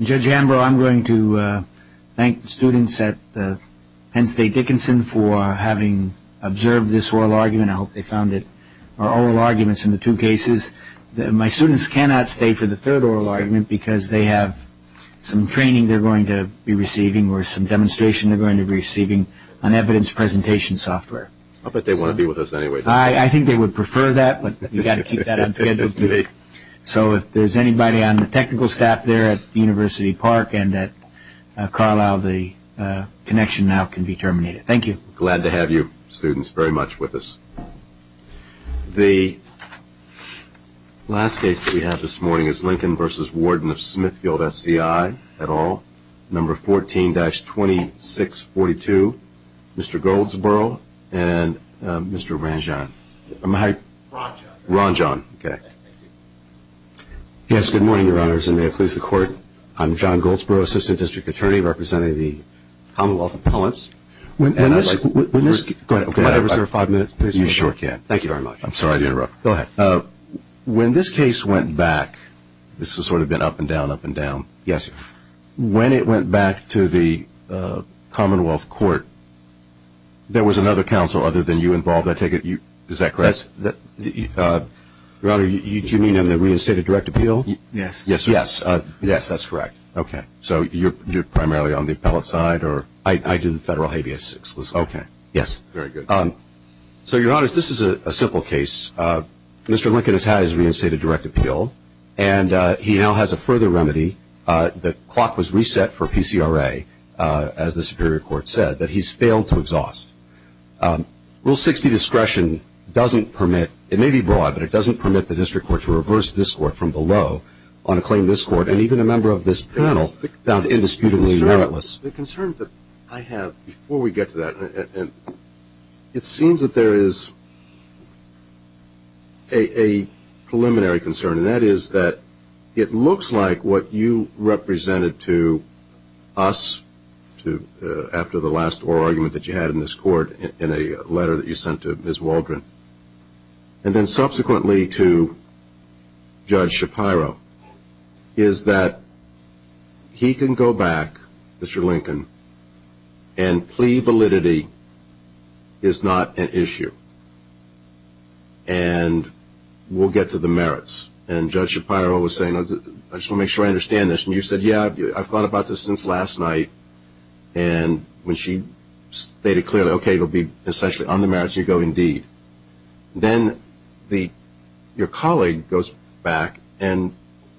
Judge Ambrose, I'm going to thank the students at Penn State Dickinson for having observed this oral argument. I hope they found it oral arguments in the two cases. My students cannot stay for the third oral argument because they have some training they're going to be receiving or some demonstration they're going to be receiving on evidence presentation software. I bet they want to be with us anyway. I think they would prefer that, but you've got to keep that on schedule. So if there's anybody on the technical staff there at University Park and at Carlisle, the connection now can be terminated. Thank you. Glad to have you students very much with us. The last case that we have this morning is Lincoln v. Warden of Smithfield SCI et al., number 14-2642. Mr. Goldsboro and Mr. Ranjan. Am I right? Ranjan. Ranjan. Okay. Yes, good morning, Your Honors, and may it please the Court. I'm John Goldsboro, Assistant District Attorney representing the Commonwealth Appellants. When this case went back, this has sort of been up and down, up and down. Yes, sir. When it went back to the Commonwealth Court, there was another counsel other than you involved, I take it? Is that correct? Your Honor, do you mean on the reinstated direct appeal? Yes. Yes, sir. Yes, that's correct. Okay. So you're primarily on the appellate side or? I do the federal habeas. Okay. Yes. Very good. So, Your Honors, this is a simple case. Mr. Lincoln has had his reinstated direct appeal, and he now has a further remedy. The clock was reset for PCRA, as the Superior Court said, that he's failed to exhaust. Rule 60 discretion doesn't permit, it may be broad, but it doesn't permit the district court to reverse this court from below on a claim this court and even a member of this panel found indisputably meritless. The concern that I have before we get to that, it seems that there is a preliminary concern, and that is that it looks like what you represented to us after the last oral argument that you had in this court in a letter that you sent to Ms. Waldron, and then subsequently to Judge Shapiro, is that he can go back, Mr. Lincoln, and plea validity is not an issue, and we'll get to the merits. And Judge Shapiro was saying, I just want to make sure I understand this. And you said, yeah, I've thought about this since last night. And when she stated clearly, okay, it will be essentially on the merits, you go indeed. Then your colleague goes back and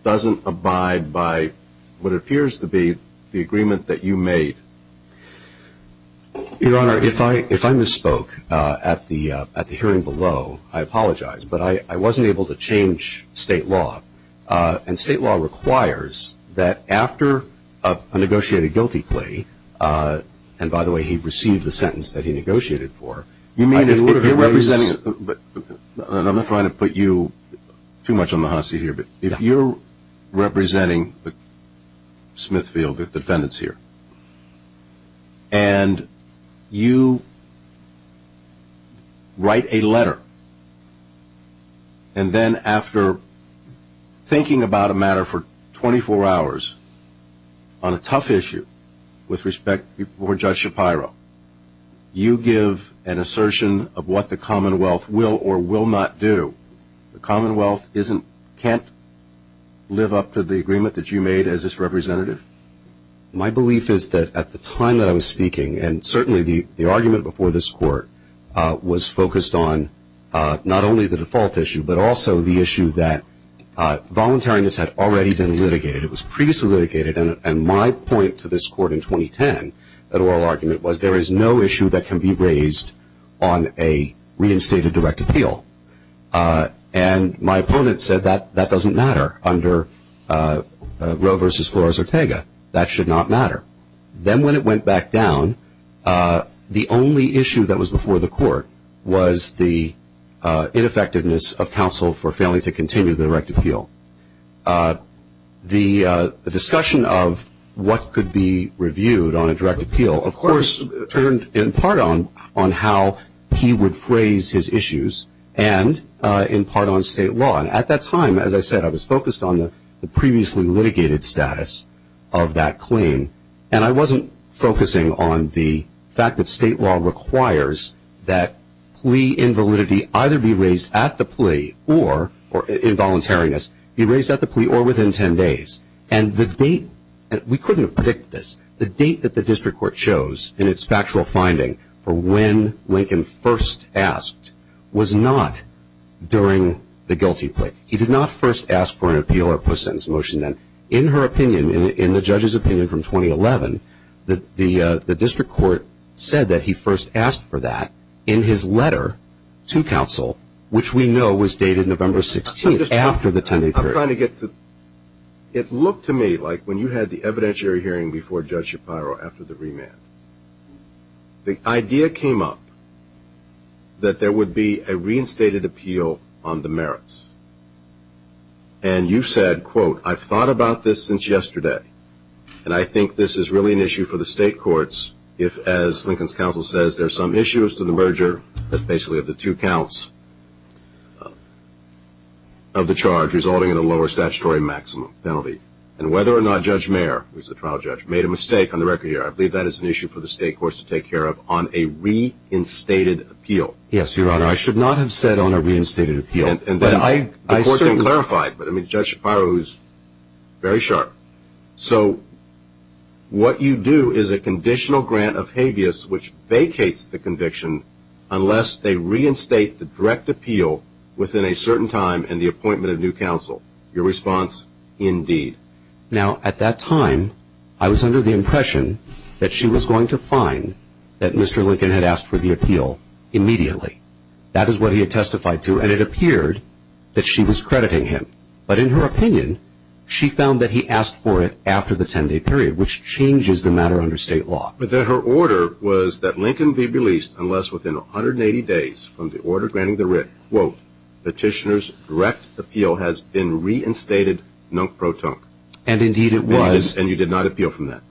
doesn't abide by what appears to be the agreement that you made. Your Honor, if I misspoke at the hearing below, I apologize. But I wasn't able to change state law. And state law requires that after a negotiated guilty plea, and, by the way, he received the sentence that he negotiated for. You mean in order to raise – I'm not trying to put you too much on the hosse here. But if you're representing Smithfield, the defendants here, and you write a letter, and then after thinking about a matter for 24 hours on a tough issue with respect before Judge Shapiro, you give an assertion of what the Commonwealth will or will not do. The Commonwealth can't live up to the agreement that you made as its representative? My belief is that at the time that I was speaking, and certainly the argument before this Court was focused on not only the default issue, but also the issue that voluntariness had already been litigated. It was previously litigated. And my point to this Court in 2010, that oral argument, was there is no issue that can be raised on a reinstated direct appeal. And my opponent said that that doesn't matter under Roe v. Flores-Ortega. That should not matter. Then when it went back down, the only issue that was before the Court was the ineffectiveness of counsel for failing to continue the direct appeal. The discussion of what could be reviewed on a direct appeal, of course, turned in part on how he would phrase his issues, and in part on state law. And at that time, as I said, I was focused on the previously litigated status of that claim. And I wasn't focusing on the fact that state law requires that plea invalidity either be raised at the plea or, in voluntariness, be raised at the plea or within 10 days. And the date, and we couldn't have predicted this, the date that the district court chose in its factual finding for when Lincoln first asked was not during the guilty plea. He did not first ask for an appeal or post-sentence motion then. In her opinion, in the judge's opinion from 2011, the district court said that he first asked for that in his letter to counsel, which we know was dated November 16th after the 10-day period. I'm trying to get to the end. It looked to me like when you had the evidentiary hearing before Judge Shapiro after the remand, the idea came up that there would be a reinstated appeal on the merits. And you said, quote, I've thought about this since yesterday, and I think this is really an issue for the state courts if, as Lincoln's counsel says, there are some issues to the merger that basically are the two counts of the charge resulting in a lower statutory maximum penalty. And whether or not Judge Mayer, who is the trial judge, made a mistake on the record here, I believe that is an issue for the state courts to take care of on a reinstated appeal. Yes, Your Honor. I should not have said on a reinstated appeal. And then the court didn't clarify it, but, I mean, Judge Shapiro is very sharp. So what you do is a conditional grant of habeas which vacates the conviction unless they reinstate the direct appeal within a certain time and the appointment of new counsel. Your response? Indeed. Now, at that time, I was under the impression that she was going to find that Mr. Lincoln had asked for the appeal immediately. That is what he had testified to, and it appeared that she was crediting him. But in her opinion, she found that he asked for it after the 10-day period, which changes the matter under state law. But then her order was that Lincoln be released unless within 180 days from the order granting the writ, quote, Petitioner's direct appeal has been reinstated non pro tonque. And, indeed, it was. And you did not appeal from that.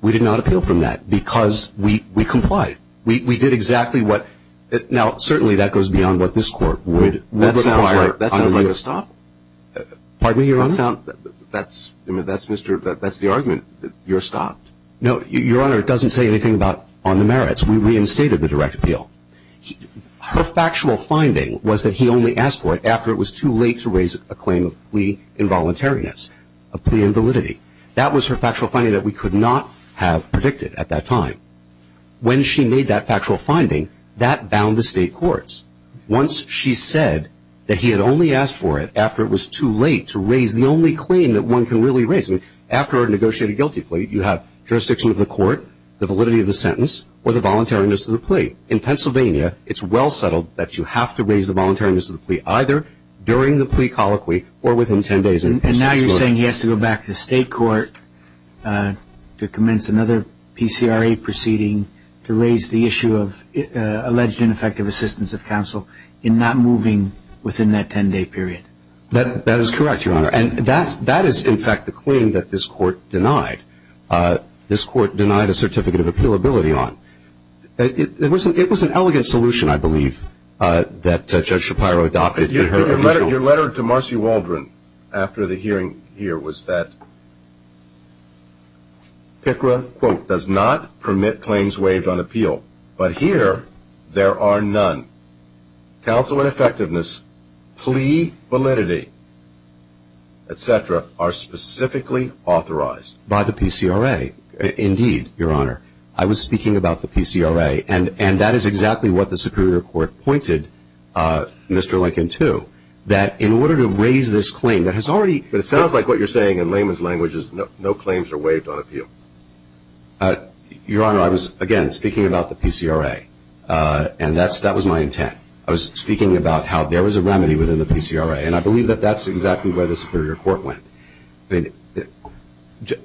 We did not appeal from that because we complied. We did exactly what – now, certainly that goes beyond what this court would require. Your Honor, that sounds like a stop. Pardon me, Your Honor? That's – I mean, that's Mr. – that's the argument. You're stopped. No, Your Honor, it doesn't say anything about on the merits. We reinstated the direct appeal. Her factual finding was that he only asked for it after it was too late to raise a claim of plea involuntariness, of plea invalidity. That was her factual finding that we could not have predicted at that time. When she made that factual finding, that bound the state courts. Once she said that he had only asked for it after it was too late to raise the only claim that one can really raise, after a negotiated guilty plea, you have jurisdiction of the court, the validity of the sentence, or the voluntariness of the plea. In Pennsylvania, it's well settled that you have to raise the voluntariness of the plea, either during the plea colloquy or within 10 days. And now you're saying he has to go back to the state court to commence another PCRA proceeding to raise the issue of alleged ineffective assistance of counsel in not moving within that 10-day period. That is correct, Your Honor. And that is, in fact, the claim that this Court denied. This Court denied a certificate of appealability on. It was an elegant solution, I believe, that Judge Shapiro adopted. Your letter to Marcy Waldron after the hearing here was that PICRA, quote, does not permit claims waived on appeal, but here there are none. Counsel ineffectiveness, plea validity, et cetera, are specifically authorized. By the PCRA. Indeed, Your Honor. I was speaking about the PCRA. And that is exactly what the Superior Court pointed Mr. Lincoln to, that in order to raise this claim that has already been But it sounds like what you're saying in layman's language is no claims are waived on appeal. Your Honor, I was, again, speaking about the PCRA, and that was my intent. I was speaking about how there was a remedy within the PCRA, and I believe that that's exactly where the Superior Court went.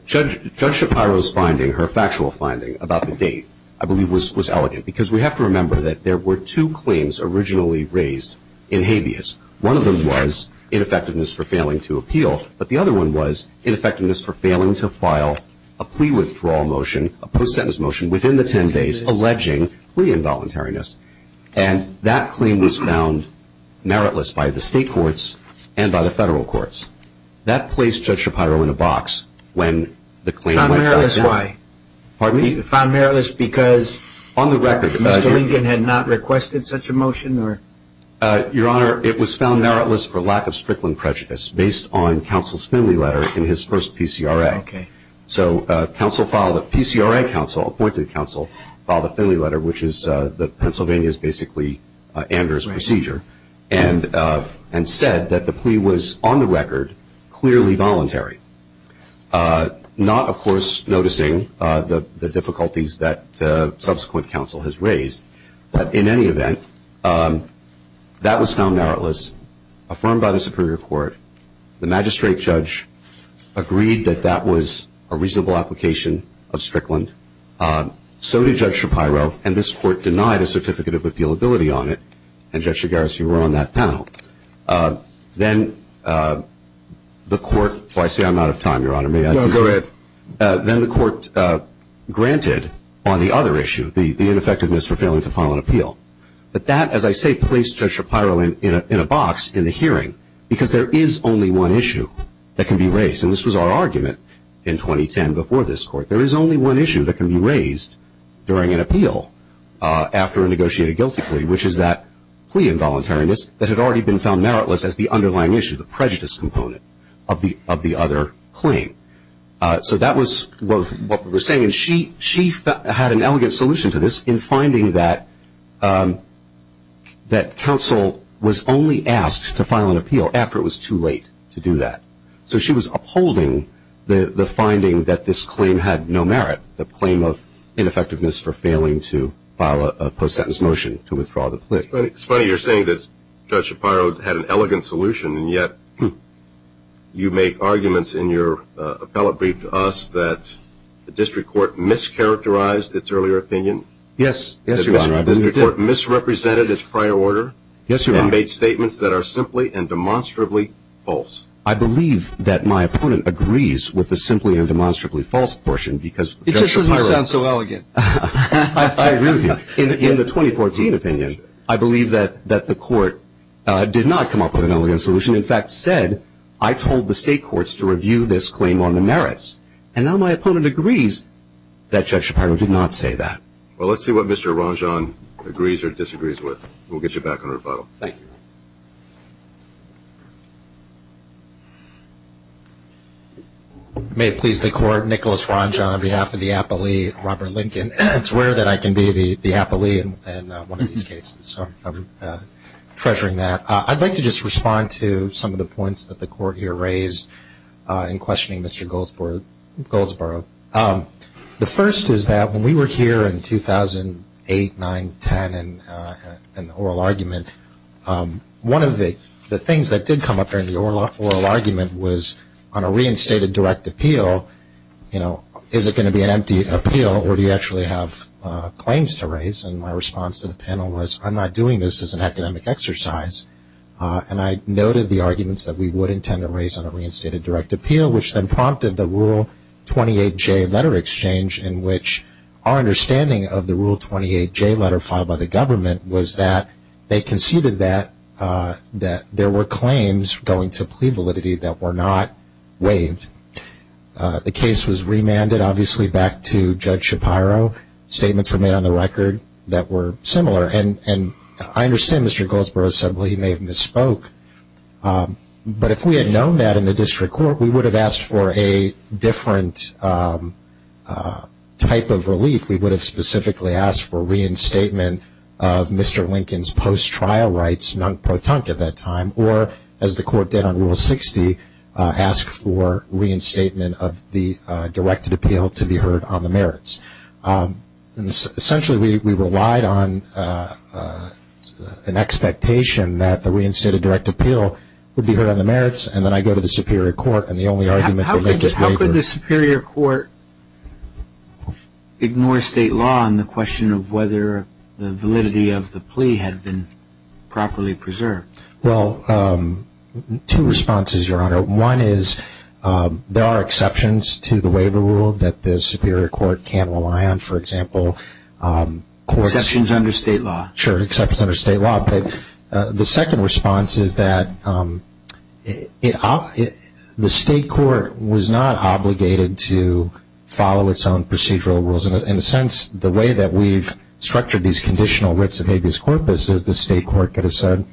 Judge Shapiro's finding, her factual finding about the date, I believe, was elegant, because we have to remember that there were two claims originally raised in habeas. One of them was ineffectiveness for failing to appeal, but the other one was ineffectiveness for failing to file a plea withdrawal motion, a post-sentence motion within the 10 days alleging plea involuntariness. And that claim was found meritless by the state courts and by the federal courts. That placed Judge Shapiro in a box when the claim went down. Found meritless why? Pardon me? Found meritless because Mr. Lincoln had not requested such a motion? Your Honor, it was found meritless for lack of Strickland prejudice based on counsel's family letter in his first PCRA. Okay. So counsel filed a PCRA counsel, appointed counsel, filed a family letter, which is the Pennsylvania's basically Andrew's procedure, and said that the plea was on the record clearly voluntary, not, of course, noticing the difficulties that subsequent counsel has raised. But in any event, that was found meritless, affirmed by the Superior Court. The magistrate judge agreed that that was a reasonable application of Strickland. So did Judge Shapiro, and this court denied a certificate of appealability on it, and Judge Shigaris, you were on that panel. Then the court granted on the other issue the ineffectiveness for failing to file an appeal. But that, as I say, placed Judge Shapiro in a box in the hearing because there is only one issue that can be raised, and this was our argument in 2010 before this court. There is only one issue that can be raised during an appeal after a negotiated guilty plea, which is that plea involuntariness that had already been found meritless as the underlying issue, the prejudice component of the other claim. So that was what we were saying. And she had an elegant solution to this in finding that counsel was only asked to file an appeal after it was too late to do that. So she was upholding the finding that this claim had no merit, the claim of ineffectiveness for failing to file a post-sentence motion to withdraw the plea. It's funny you're saying that Judge Shapiro had an elegant solution, and yet you make arguments in your appellate brief to us that the district court mischaracterized its earlier opinion. Yes, Your Honor. The district court misrepresented its prior order. Yes, Your Honor. And made statements that are simply and demonstrably false. I believe that my opponent agrees with the simply and demonstrably false portion because Judge Shapiro ---- It just doesn't sound so elegant. I agree with you. In the 2014 opinion, I believe that the court did not come up with an elegant solution. In fact, said, I told the state courts to review this claim on the merits. And now my opponent agrees that Judge Shapiro did not say that. Well, let's see what Mr. Ranjan agrees or disagrees with. We'll get you back on rebuttal. Thank you. May it please the Court, Nicholas Ranjan on behalf of the appellee, Robert Lincoln. It's rare that I can be the appellee in one of these cases, so I'm treasuring that. I'd like to just respond to some of the points that the Court here raised in questioning Mr. Goldsboro. The first is that when we were here in 2008, 9, 10 in the oral argument, one of the things that did come up during the oral argument was on a reinstated direct appeal, is it going to be an empty appeal or do you actually have claims to raise? And my response to the panel was, I'm not doing this as an academic exercise. And I noted the arguments that we would intend to raise on a reinstated direct appeal, which then prompted the Rule 28J letter exchange in which our understanding of the Rule 28J letter filed by the government was that they conceded that there were claims going to plea validity that were not waived. The case was remanded, obviously, back to Judge Shapiro. Statements were made on the record that were similar. And I understand Mr. Goldsboro said, well, he may have misspoke. But if we had known that in the district court, we would have asked for a different type of relief. We would have specifically asked for reinstatement of Mr. Lincoln's post-trial rights, non-pro-tunk at that time, or as the Court did on Rule 60, ask for reinstatement of the directed appeal to be heard on the merits. Essentially, we relied on an expectation that the reinstated direct appeal would be heard on the merits. And then I go to the Superior Court, and the only argument they make is waiver. How could the Superior Court ignore state law on the question of whether the validity of the plea had been properly preserved? Well, two responses, Your Honor. One is there are exceptions to the waiver rule that the Superior Court can rely on, for example. Exceptions under state law. Sure, exceptions under state law. But the second response is that the state court was not obligated to follow its own procedural rules. In a sense, the way that we've structured these conditional writs of habeas corpus, as the state court could have said,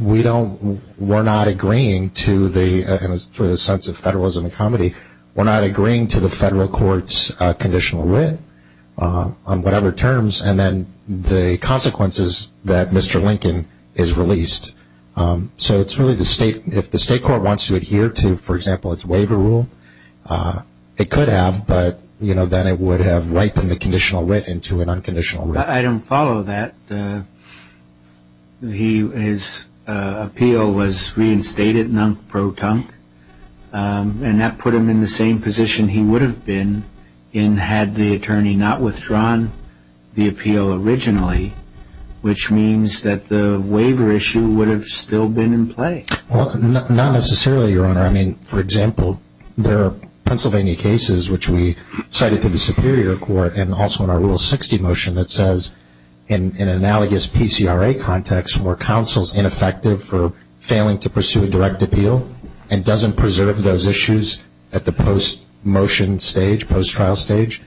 we don't, we're not agreeing to the, in a sense of federalism and comedy, we're not agreeing to the federal court's conditional writ on whatever terms, and then the consequences that Mr. Lincoln is released. So it's really the state, if the state court wants to adhere to, for example, its waiver rule, it could have, but then it would have ripened the conditional writ into an unconditional writ. I don't follow that. His appeal was reinstated non-proton, and that put him in the same position he would have been had the attorney not withdrawn the appeal originally, which means that the waiver issue would have still been in play. Well, not necessarily, Your Honor. I mean, for example, there are Pennsylvania cases which we cited to the Superior Court and also in our Rule 60 motion that says, in an analogous PCRA context, where counsel's ineffective for failing to pursue a direct appeal and doesn't preserve those issues at the post-motion stage, post-trial stage,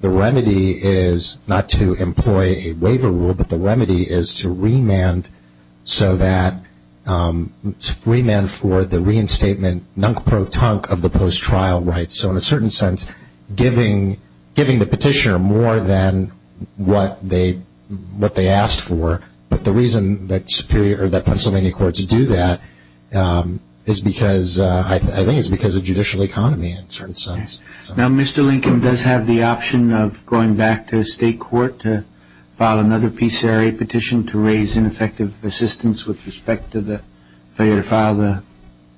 the remedy is not to employ a waiver rule, but the remedy is to remand so that, remand for the reinstatement non-proton of the post-trial rights. So in a certain sense, giving the petitioner more than what they asked for, but the reason that Pennsylvania courts do that is because, I think it's because of judicial economy in a certain sense. Now, Mr. Lincoln does have the option of going back to state court to file another PCRA petition to raise ineffective assistance with respect to the failure to file the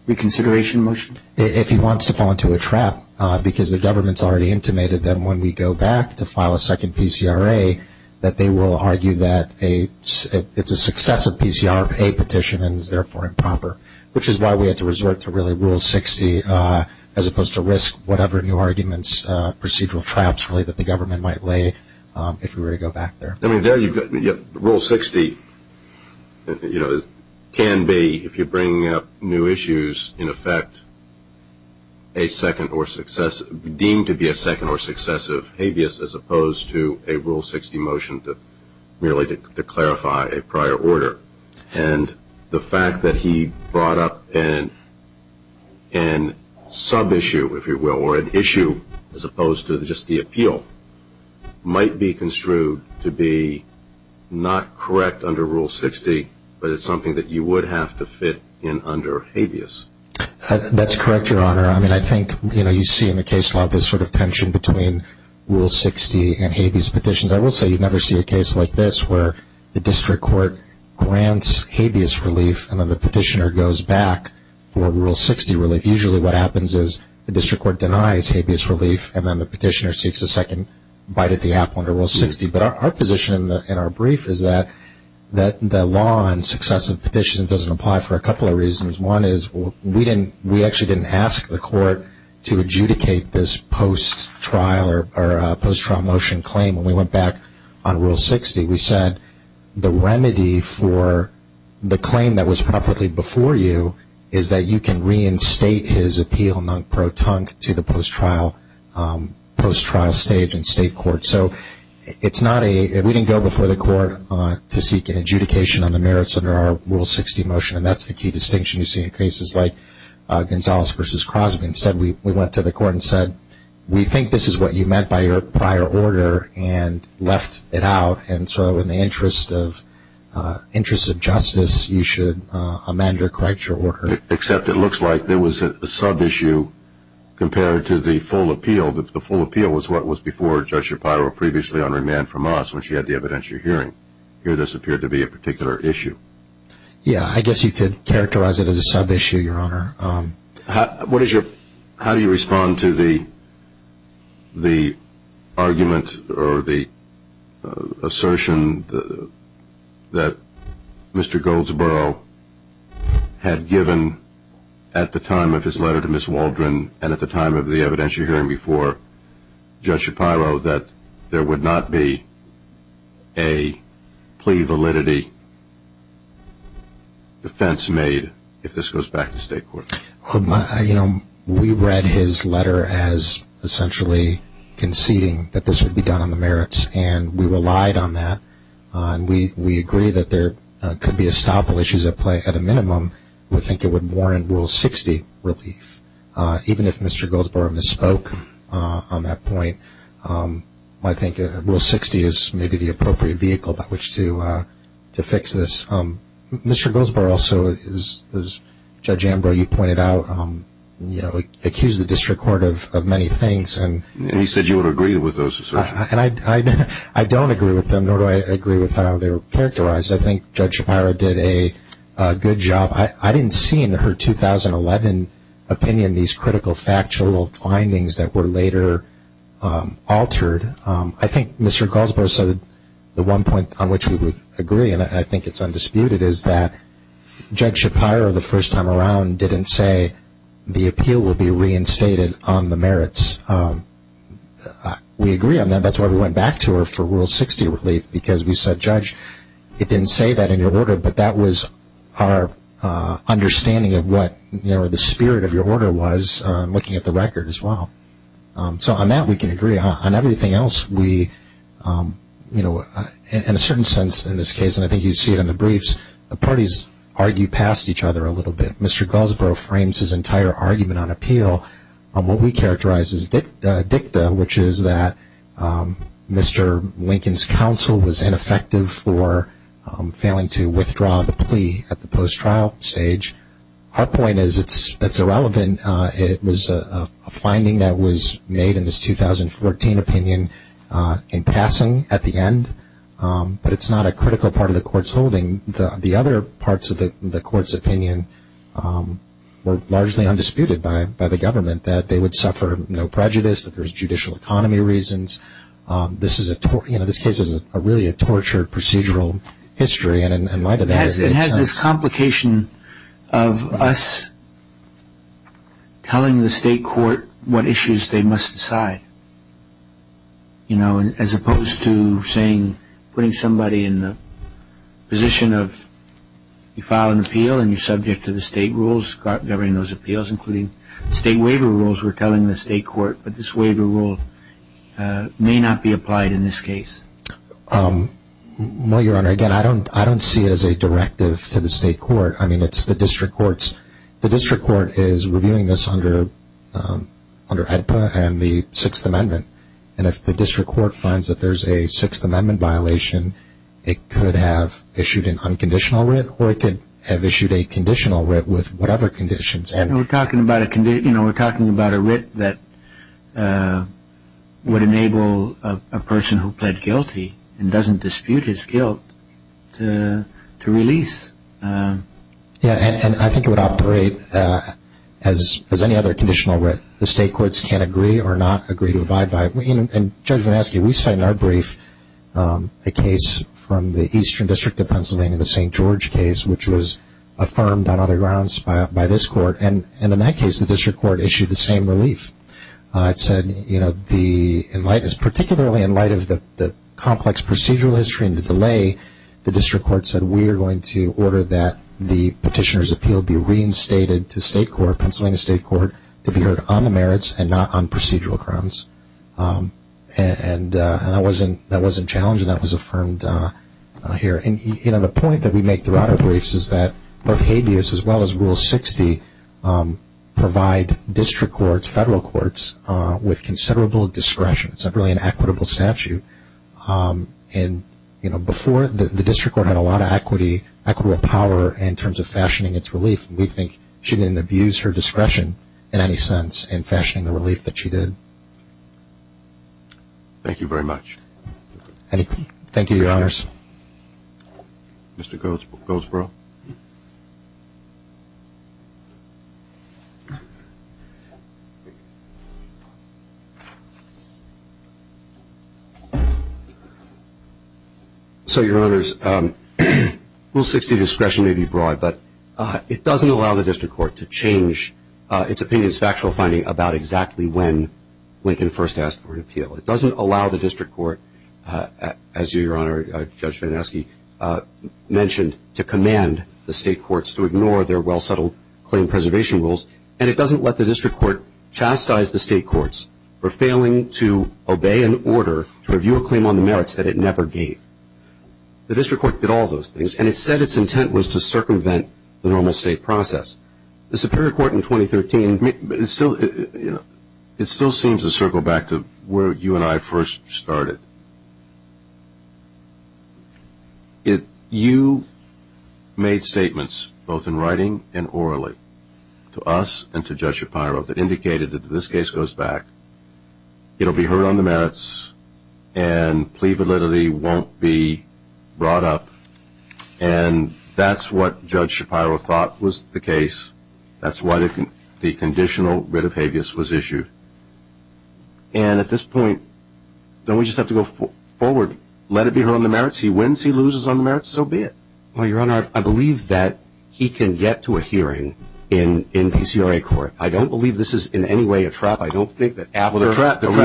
reconsideration motion? If he wants to fall into a trap, because the government's already intimated that when we go back to file a second PCRA, that they will argue that it's a successive PCRA petition and is therefore improper, which is why we had to resort to really Rule 60 as opposed to risk whatever new arguments, procedural traps, really, that the government might lay if we were to go back there. Rule 60 can be, if you're bringing up new issues, in effect, deemed to be a second or successive habeas as opposed to a Rule 60 motion merely to clarify a prior order. And the fact that he brought up an issue as opposed to just the appeal might be construed to be not correct under Rule 60, but it's something that you would have to fit in under habeas. That's correct, Your Honor. I mean, I think you see in the case law this sort of tension between Rule 60 and habeas petitions. I will say you never see a case like this where the district court grants habeas relief and then the petitioner goes back for Rule 60 relief. Usually what happens is the district court denies habeas relief and then the petitioner seeks a second bite at the apple under Rule 60. But our position in our brief is that the law on successive petitions doesn't apply for a couple of reasons. One is we actually didn't ask the court to adjudicate this post-trial motion claim. When we went back on Rule 60, we said the remedy for the claim that was properly before you is that you can reinstate his appeal non-pro-tunc to the post-trial stage in state court. So we didn't go before the court to seek an adjudication on the merits under our Rule 60 motion, and that's the key distinction you see in cases like Gonzales v. Crosby. Instead, we went to the court and said we think this is what you meant by your prior order and left it out. And so in the interest of justice, you should amend or correct your order. Except it looks like there was a sub-issue compared to the full appeal. The full appeal was what was before Judge Shapiro previously on remand from us when she had the evidentiary hearing. Here this appeared to be a particular issue. Yeah, I guess you could characterize it as a sub-issue, Your Honor. How do you respond to the argument or the assertion that Mr. Goldsboro had given at the time of his letter to Ms. Waldron and at the time of the evidentiary hearing before Judge Shapiro that there would not be a plea validity defense made if this goes back to state court? You know, we read his letter as essentially conceding that this would be done on the merits, and we relied on that. We agree that there could be estoppel issues at play at a minimum. We think it would warrant Rule 60 relief. Even if Mr. Goldsboro misspoke on that point, I think Rule 60 is maybe the appropriate vehicle by which to fix this. Mr. Goldsboro also, as Judge Ambrose, you pointed out, accused the district court of many things. And he said you would agree with those assertions. And I don't agree with them, nor do I agree with how they were characterized. I think Judge Shapiro did a good job. I didn't see in her 2011 opinion these critical factual findings that were later altered. I think Mr. Goldsboro said the one point on which we would agree, and I think it's undisputed, is that Judge Shapiro the first time around didn't say the appeal would be reinstated on the merits. We agree on that. That's why we went back to her for Rule 60 relief, because we said, Judge, it didn't say that in your order, but that was our understanding of what the spirit of your order was looking at the record as well. So on that we can agree. On everything else, in a certain sense in this case, and I think you see it in the briefs, the parties argue past each other a little bit. Mr. Goldsboro frames his entire argument on appeal on what we characterize as dicta, which is that Mr. Lincoln's counsel was ineffective for failing to withdraw the plea at the post-trial stage. Our point is it's irrelevant. It was a finding that was made in this 2014 opinion in passing at the end, but it's not a critical part of the Court's holding. The other parts of the Court's opinion were largely undisputed by the government, that they would suffer no prejudice, that there's judicial economy reasons. This case is really a tortured procedural history. It has this complication of us telling the state court what issues they must decide, as opposed to putting somebody in the position of you file an appeal and you're subject to the state rules governing those appeals, including state waiver rules we're telling the state court, but this waiver rule may not be applied in this case. Well, Your Honor, again, I don't see it as a directive to the state court. I mean, it's the district courts. The district court is reviewing this under AEDPA and the Sixth Amendment, and if the district court finds that there's a Sixth Amendment violation, it could have issued an unconditional writ, or it could have issued a conditional writ with whatever conditions. We're talking about a writ that would enable a person who pled guilty and doesn't dispute his guilt to release. Yeah, and I think it would operate as any other conditional writ. The state courts can't agree or not agree to abide by it. And Judge Vanneschi, we cite in our brief a case from the Eastern District of Pennsylvania, the St. George case, which was affirmed on other grounds by this court, and in that case the district court issued the same relief. It said, particularly in light of the complex procedural history and the delay, the district court said we are going to order that the petitioner's appeal be reinstated to state court, to be heard on the merits and not on procedural grounds. And that wasn't challenged, and that was affirmed here. The point that we make throughout our briefs is that both habeas as well as Rule 60 provide district courts, federal courts, with considerable discretion. It's really an equitable statute. Before, the district court had a lot of equity, equitable power in terms of fashioning its relief. We think she didn't abuse her discretion in any sense in fashioning the relief that she did. Thank you very much. Thank you, Your Honors. Mr. Goldsboro. Mr. Goldsboro. So, Your Honors, Rule 60 discretion may be broad, but it doesn't allow the district court to change its opinion's factual finding about exactly when Lincoln first asked for an appeal. It doesn't allow the district court, as Your Honor, Judge Van Esky mentioned, to command the state courts to ignore their well-settled claim preservation rules, and it doesn't let the district court chastise the state courts for failing to obey an order to review a claim on the merits that it never gave. The district court did all those things, and it said its intent was to circumvent the normal state process. The Superior Court in 2013... It still seems to circle back to where you and I first started. You made statements, both in writing and orally, to us and to Judge Shapiro that indicated that if this case goes back, it will be heard on the merits and plea validity won't be brought up, and that's what Judge Shapiro thought was the case. That's why the conditional writ of habeas was issued. And at this point, don't we just have to go forward? Let it be heard on the merits? He wins, he loses on the merits? So be it. Well, Your Honor, I believe that he can get to a hearing in PCRA court. I don't believe this is in any way a trap. I don't think that after... Well, the trap is... ...it's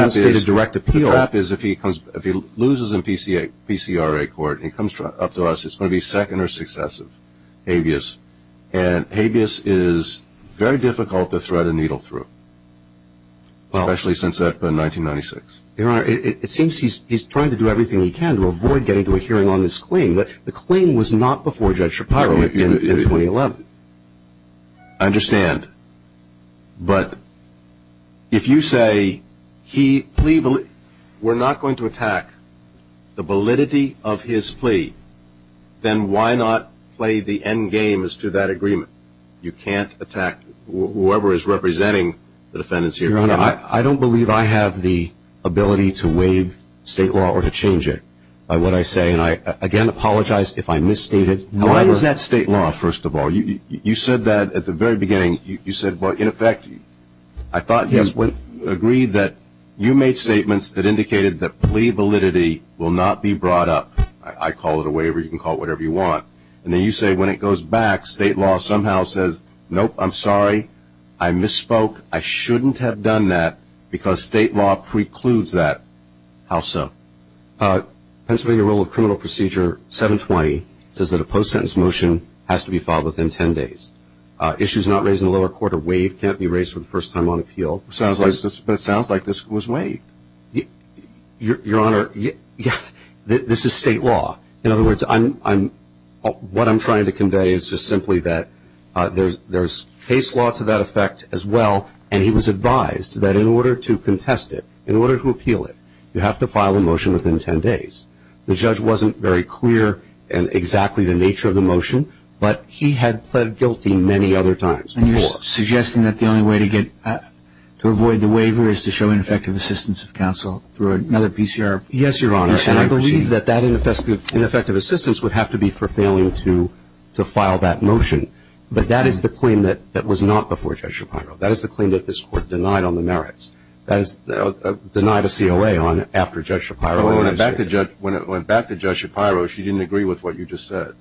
going to be second or successive habeas, and habeas is very difficult to thread a needle through, especially since that's been 1996. Your Honor, it seems he's trying to do everything he can to avoid getting to a hearing on this claim, but the claim was not before Judge Shapiro in 2011. I understand, but if you say we're not going to attack the validity of his plea, then why not play the end game as to that agreement? You can't attack whoever is representing the defendants here. Your Honor, I don't believe I have the ability to waive state law or to change it. What I say, and I again apologize if I misstated... Why is that state law, first of all? You said that at the very beginning. You said, well, in effect, I thought you agreed that you made statements that indicated that plea validity will not be brought up. I call it a waiver. You can call it whatever you want. And then you say when it goes back, state law somehow says, nope, I'm sorry, I misspoke. I shouldn't have done that because state law precludes that. How so? Pennsylvania Rule of Criminal Procedure 720 says that a post-sentence motion has to be filed within 10 days. Issues not raised in the lower court are waived, can't be raised for the first time on appeal. But it sounds like this was waived. Your Honor, this is state law. In other words, what I'm trying to convey is just simply that there's case law to that effect as well, and he was advised that in order to contest it, in order to appeal it, you have to file a motion within 10 days. The judge wasn't very clear in exactly the nature of the motion, but he had pled guilty many other times before. And you're suggesting that the only way to avoid the waiver is to show ineffective assistance of counsel through another PCR? Yes, Your Honor. And I believe that that ineffective assistance would have to be for failing to file that motion. But that is the claim that was not before Judge Shapiro. That is the claim that this Court denied on the merits. That is denied a COA on after Judge Shapiro. When it went back to Judge Shapiro, she didn't agree with what you just said.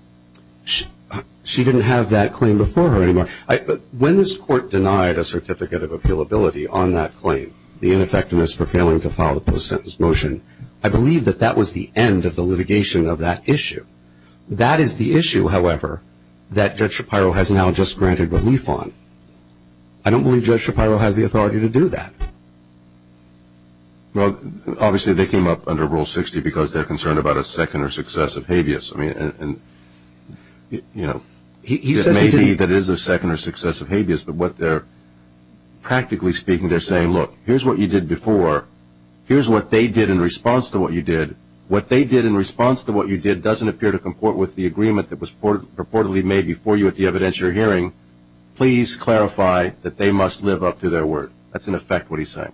She didn't have that claim before her anymore. But when this Court denied a certificate of appealability on that claim, the ineffectiveness for failing to file the post-sentence motion, I believe that that was the end of the litigation of that issue. That is the issue, however, that Judge Shapiro has now just granted relief on. I don't believe Judge Shapiro has the authority to do that. Well, obviously they came up under Rule 60 because they're concerned about a second or successive habeas. I mean, you know, it may be that it is a second or successive habeas, but what they're practically speaking, they're saying, look, here's what you did before. Here's what they did in response to what you did. What they did in response to what you did doesn't appear to comport with the agreement that was purportedly made before you at the evidentiary hearing. Please clarify that they must live up to their word. That's, in effect, what he's saying.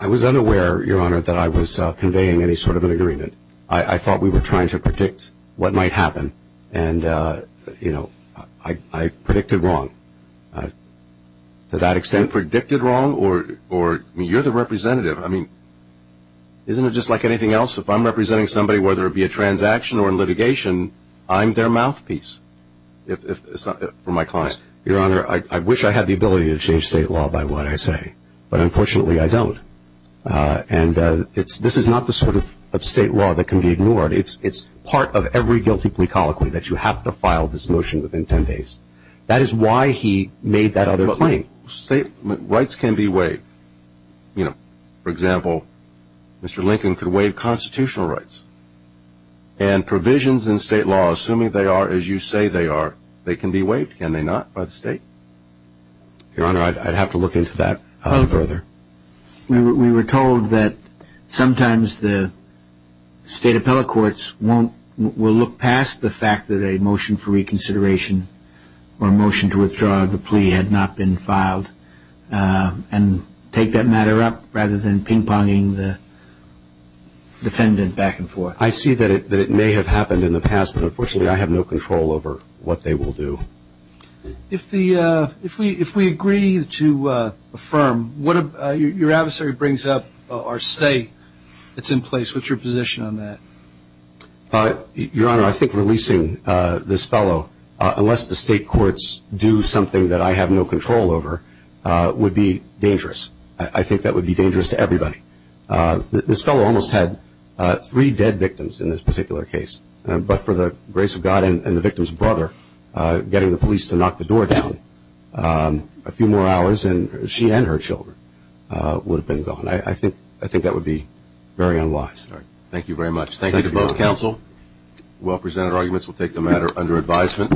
I was unaware, Your Honor, that I was conveying any sort of an agreement. I thought we were trying to predict what might happen, and, you know, I predicted wrong. To that extent, predicted wrong or you're the representative. I mean, isn't it just like anything else? If I'm representing somebody, whether it be a transaction or in litigation, I'm their mouthpiece. It's not for my client. Your Honor, I wish I had the ability to change state law by what I say, but unfortunately I don't. And this is not the sort of state law that can be ignored. It's part of every guilty plea colloquy that you have to file this motion within ten days. That is why he made that other claim. Rights can be waived. You know, for example, Mr. Lincoln could waive constitutional rights. And provisions in state law, assuming they are as you say they are, they can be waived, can they not, by the state? Your Honor, I'd have to look into that further. We were told that sometimes the state appellate courts will look past the fact that a motion for reconsideration or a motion to withdraw the plea had not been filed and take that matter up rather than ping-ponging the defendant back and forth. I see that it may have happened in the past, but unfortunately I have no control over what they will do. If we agree to affirm, what if your adversary brings up or say it's in place, what's your position on that? Your Honor, I think releasing this fellow, unless the state courts do something that I have no control over, would be dangerous. I think that would be dangerous to everybody. This fellow almost had three dead victims in this particular case, but for the grace of God and the victim's brother getting the police to knock the door down, a few more hours and she and her children would have been gone. I think that would be very unwise. Thank you very much. Thank you both. Thank you, counsel. Well-presented arguments will take the matter under advisement.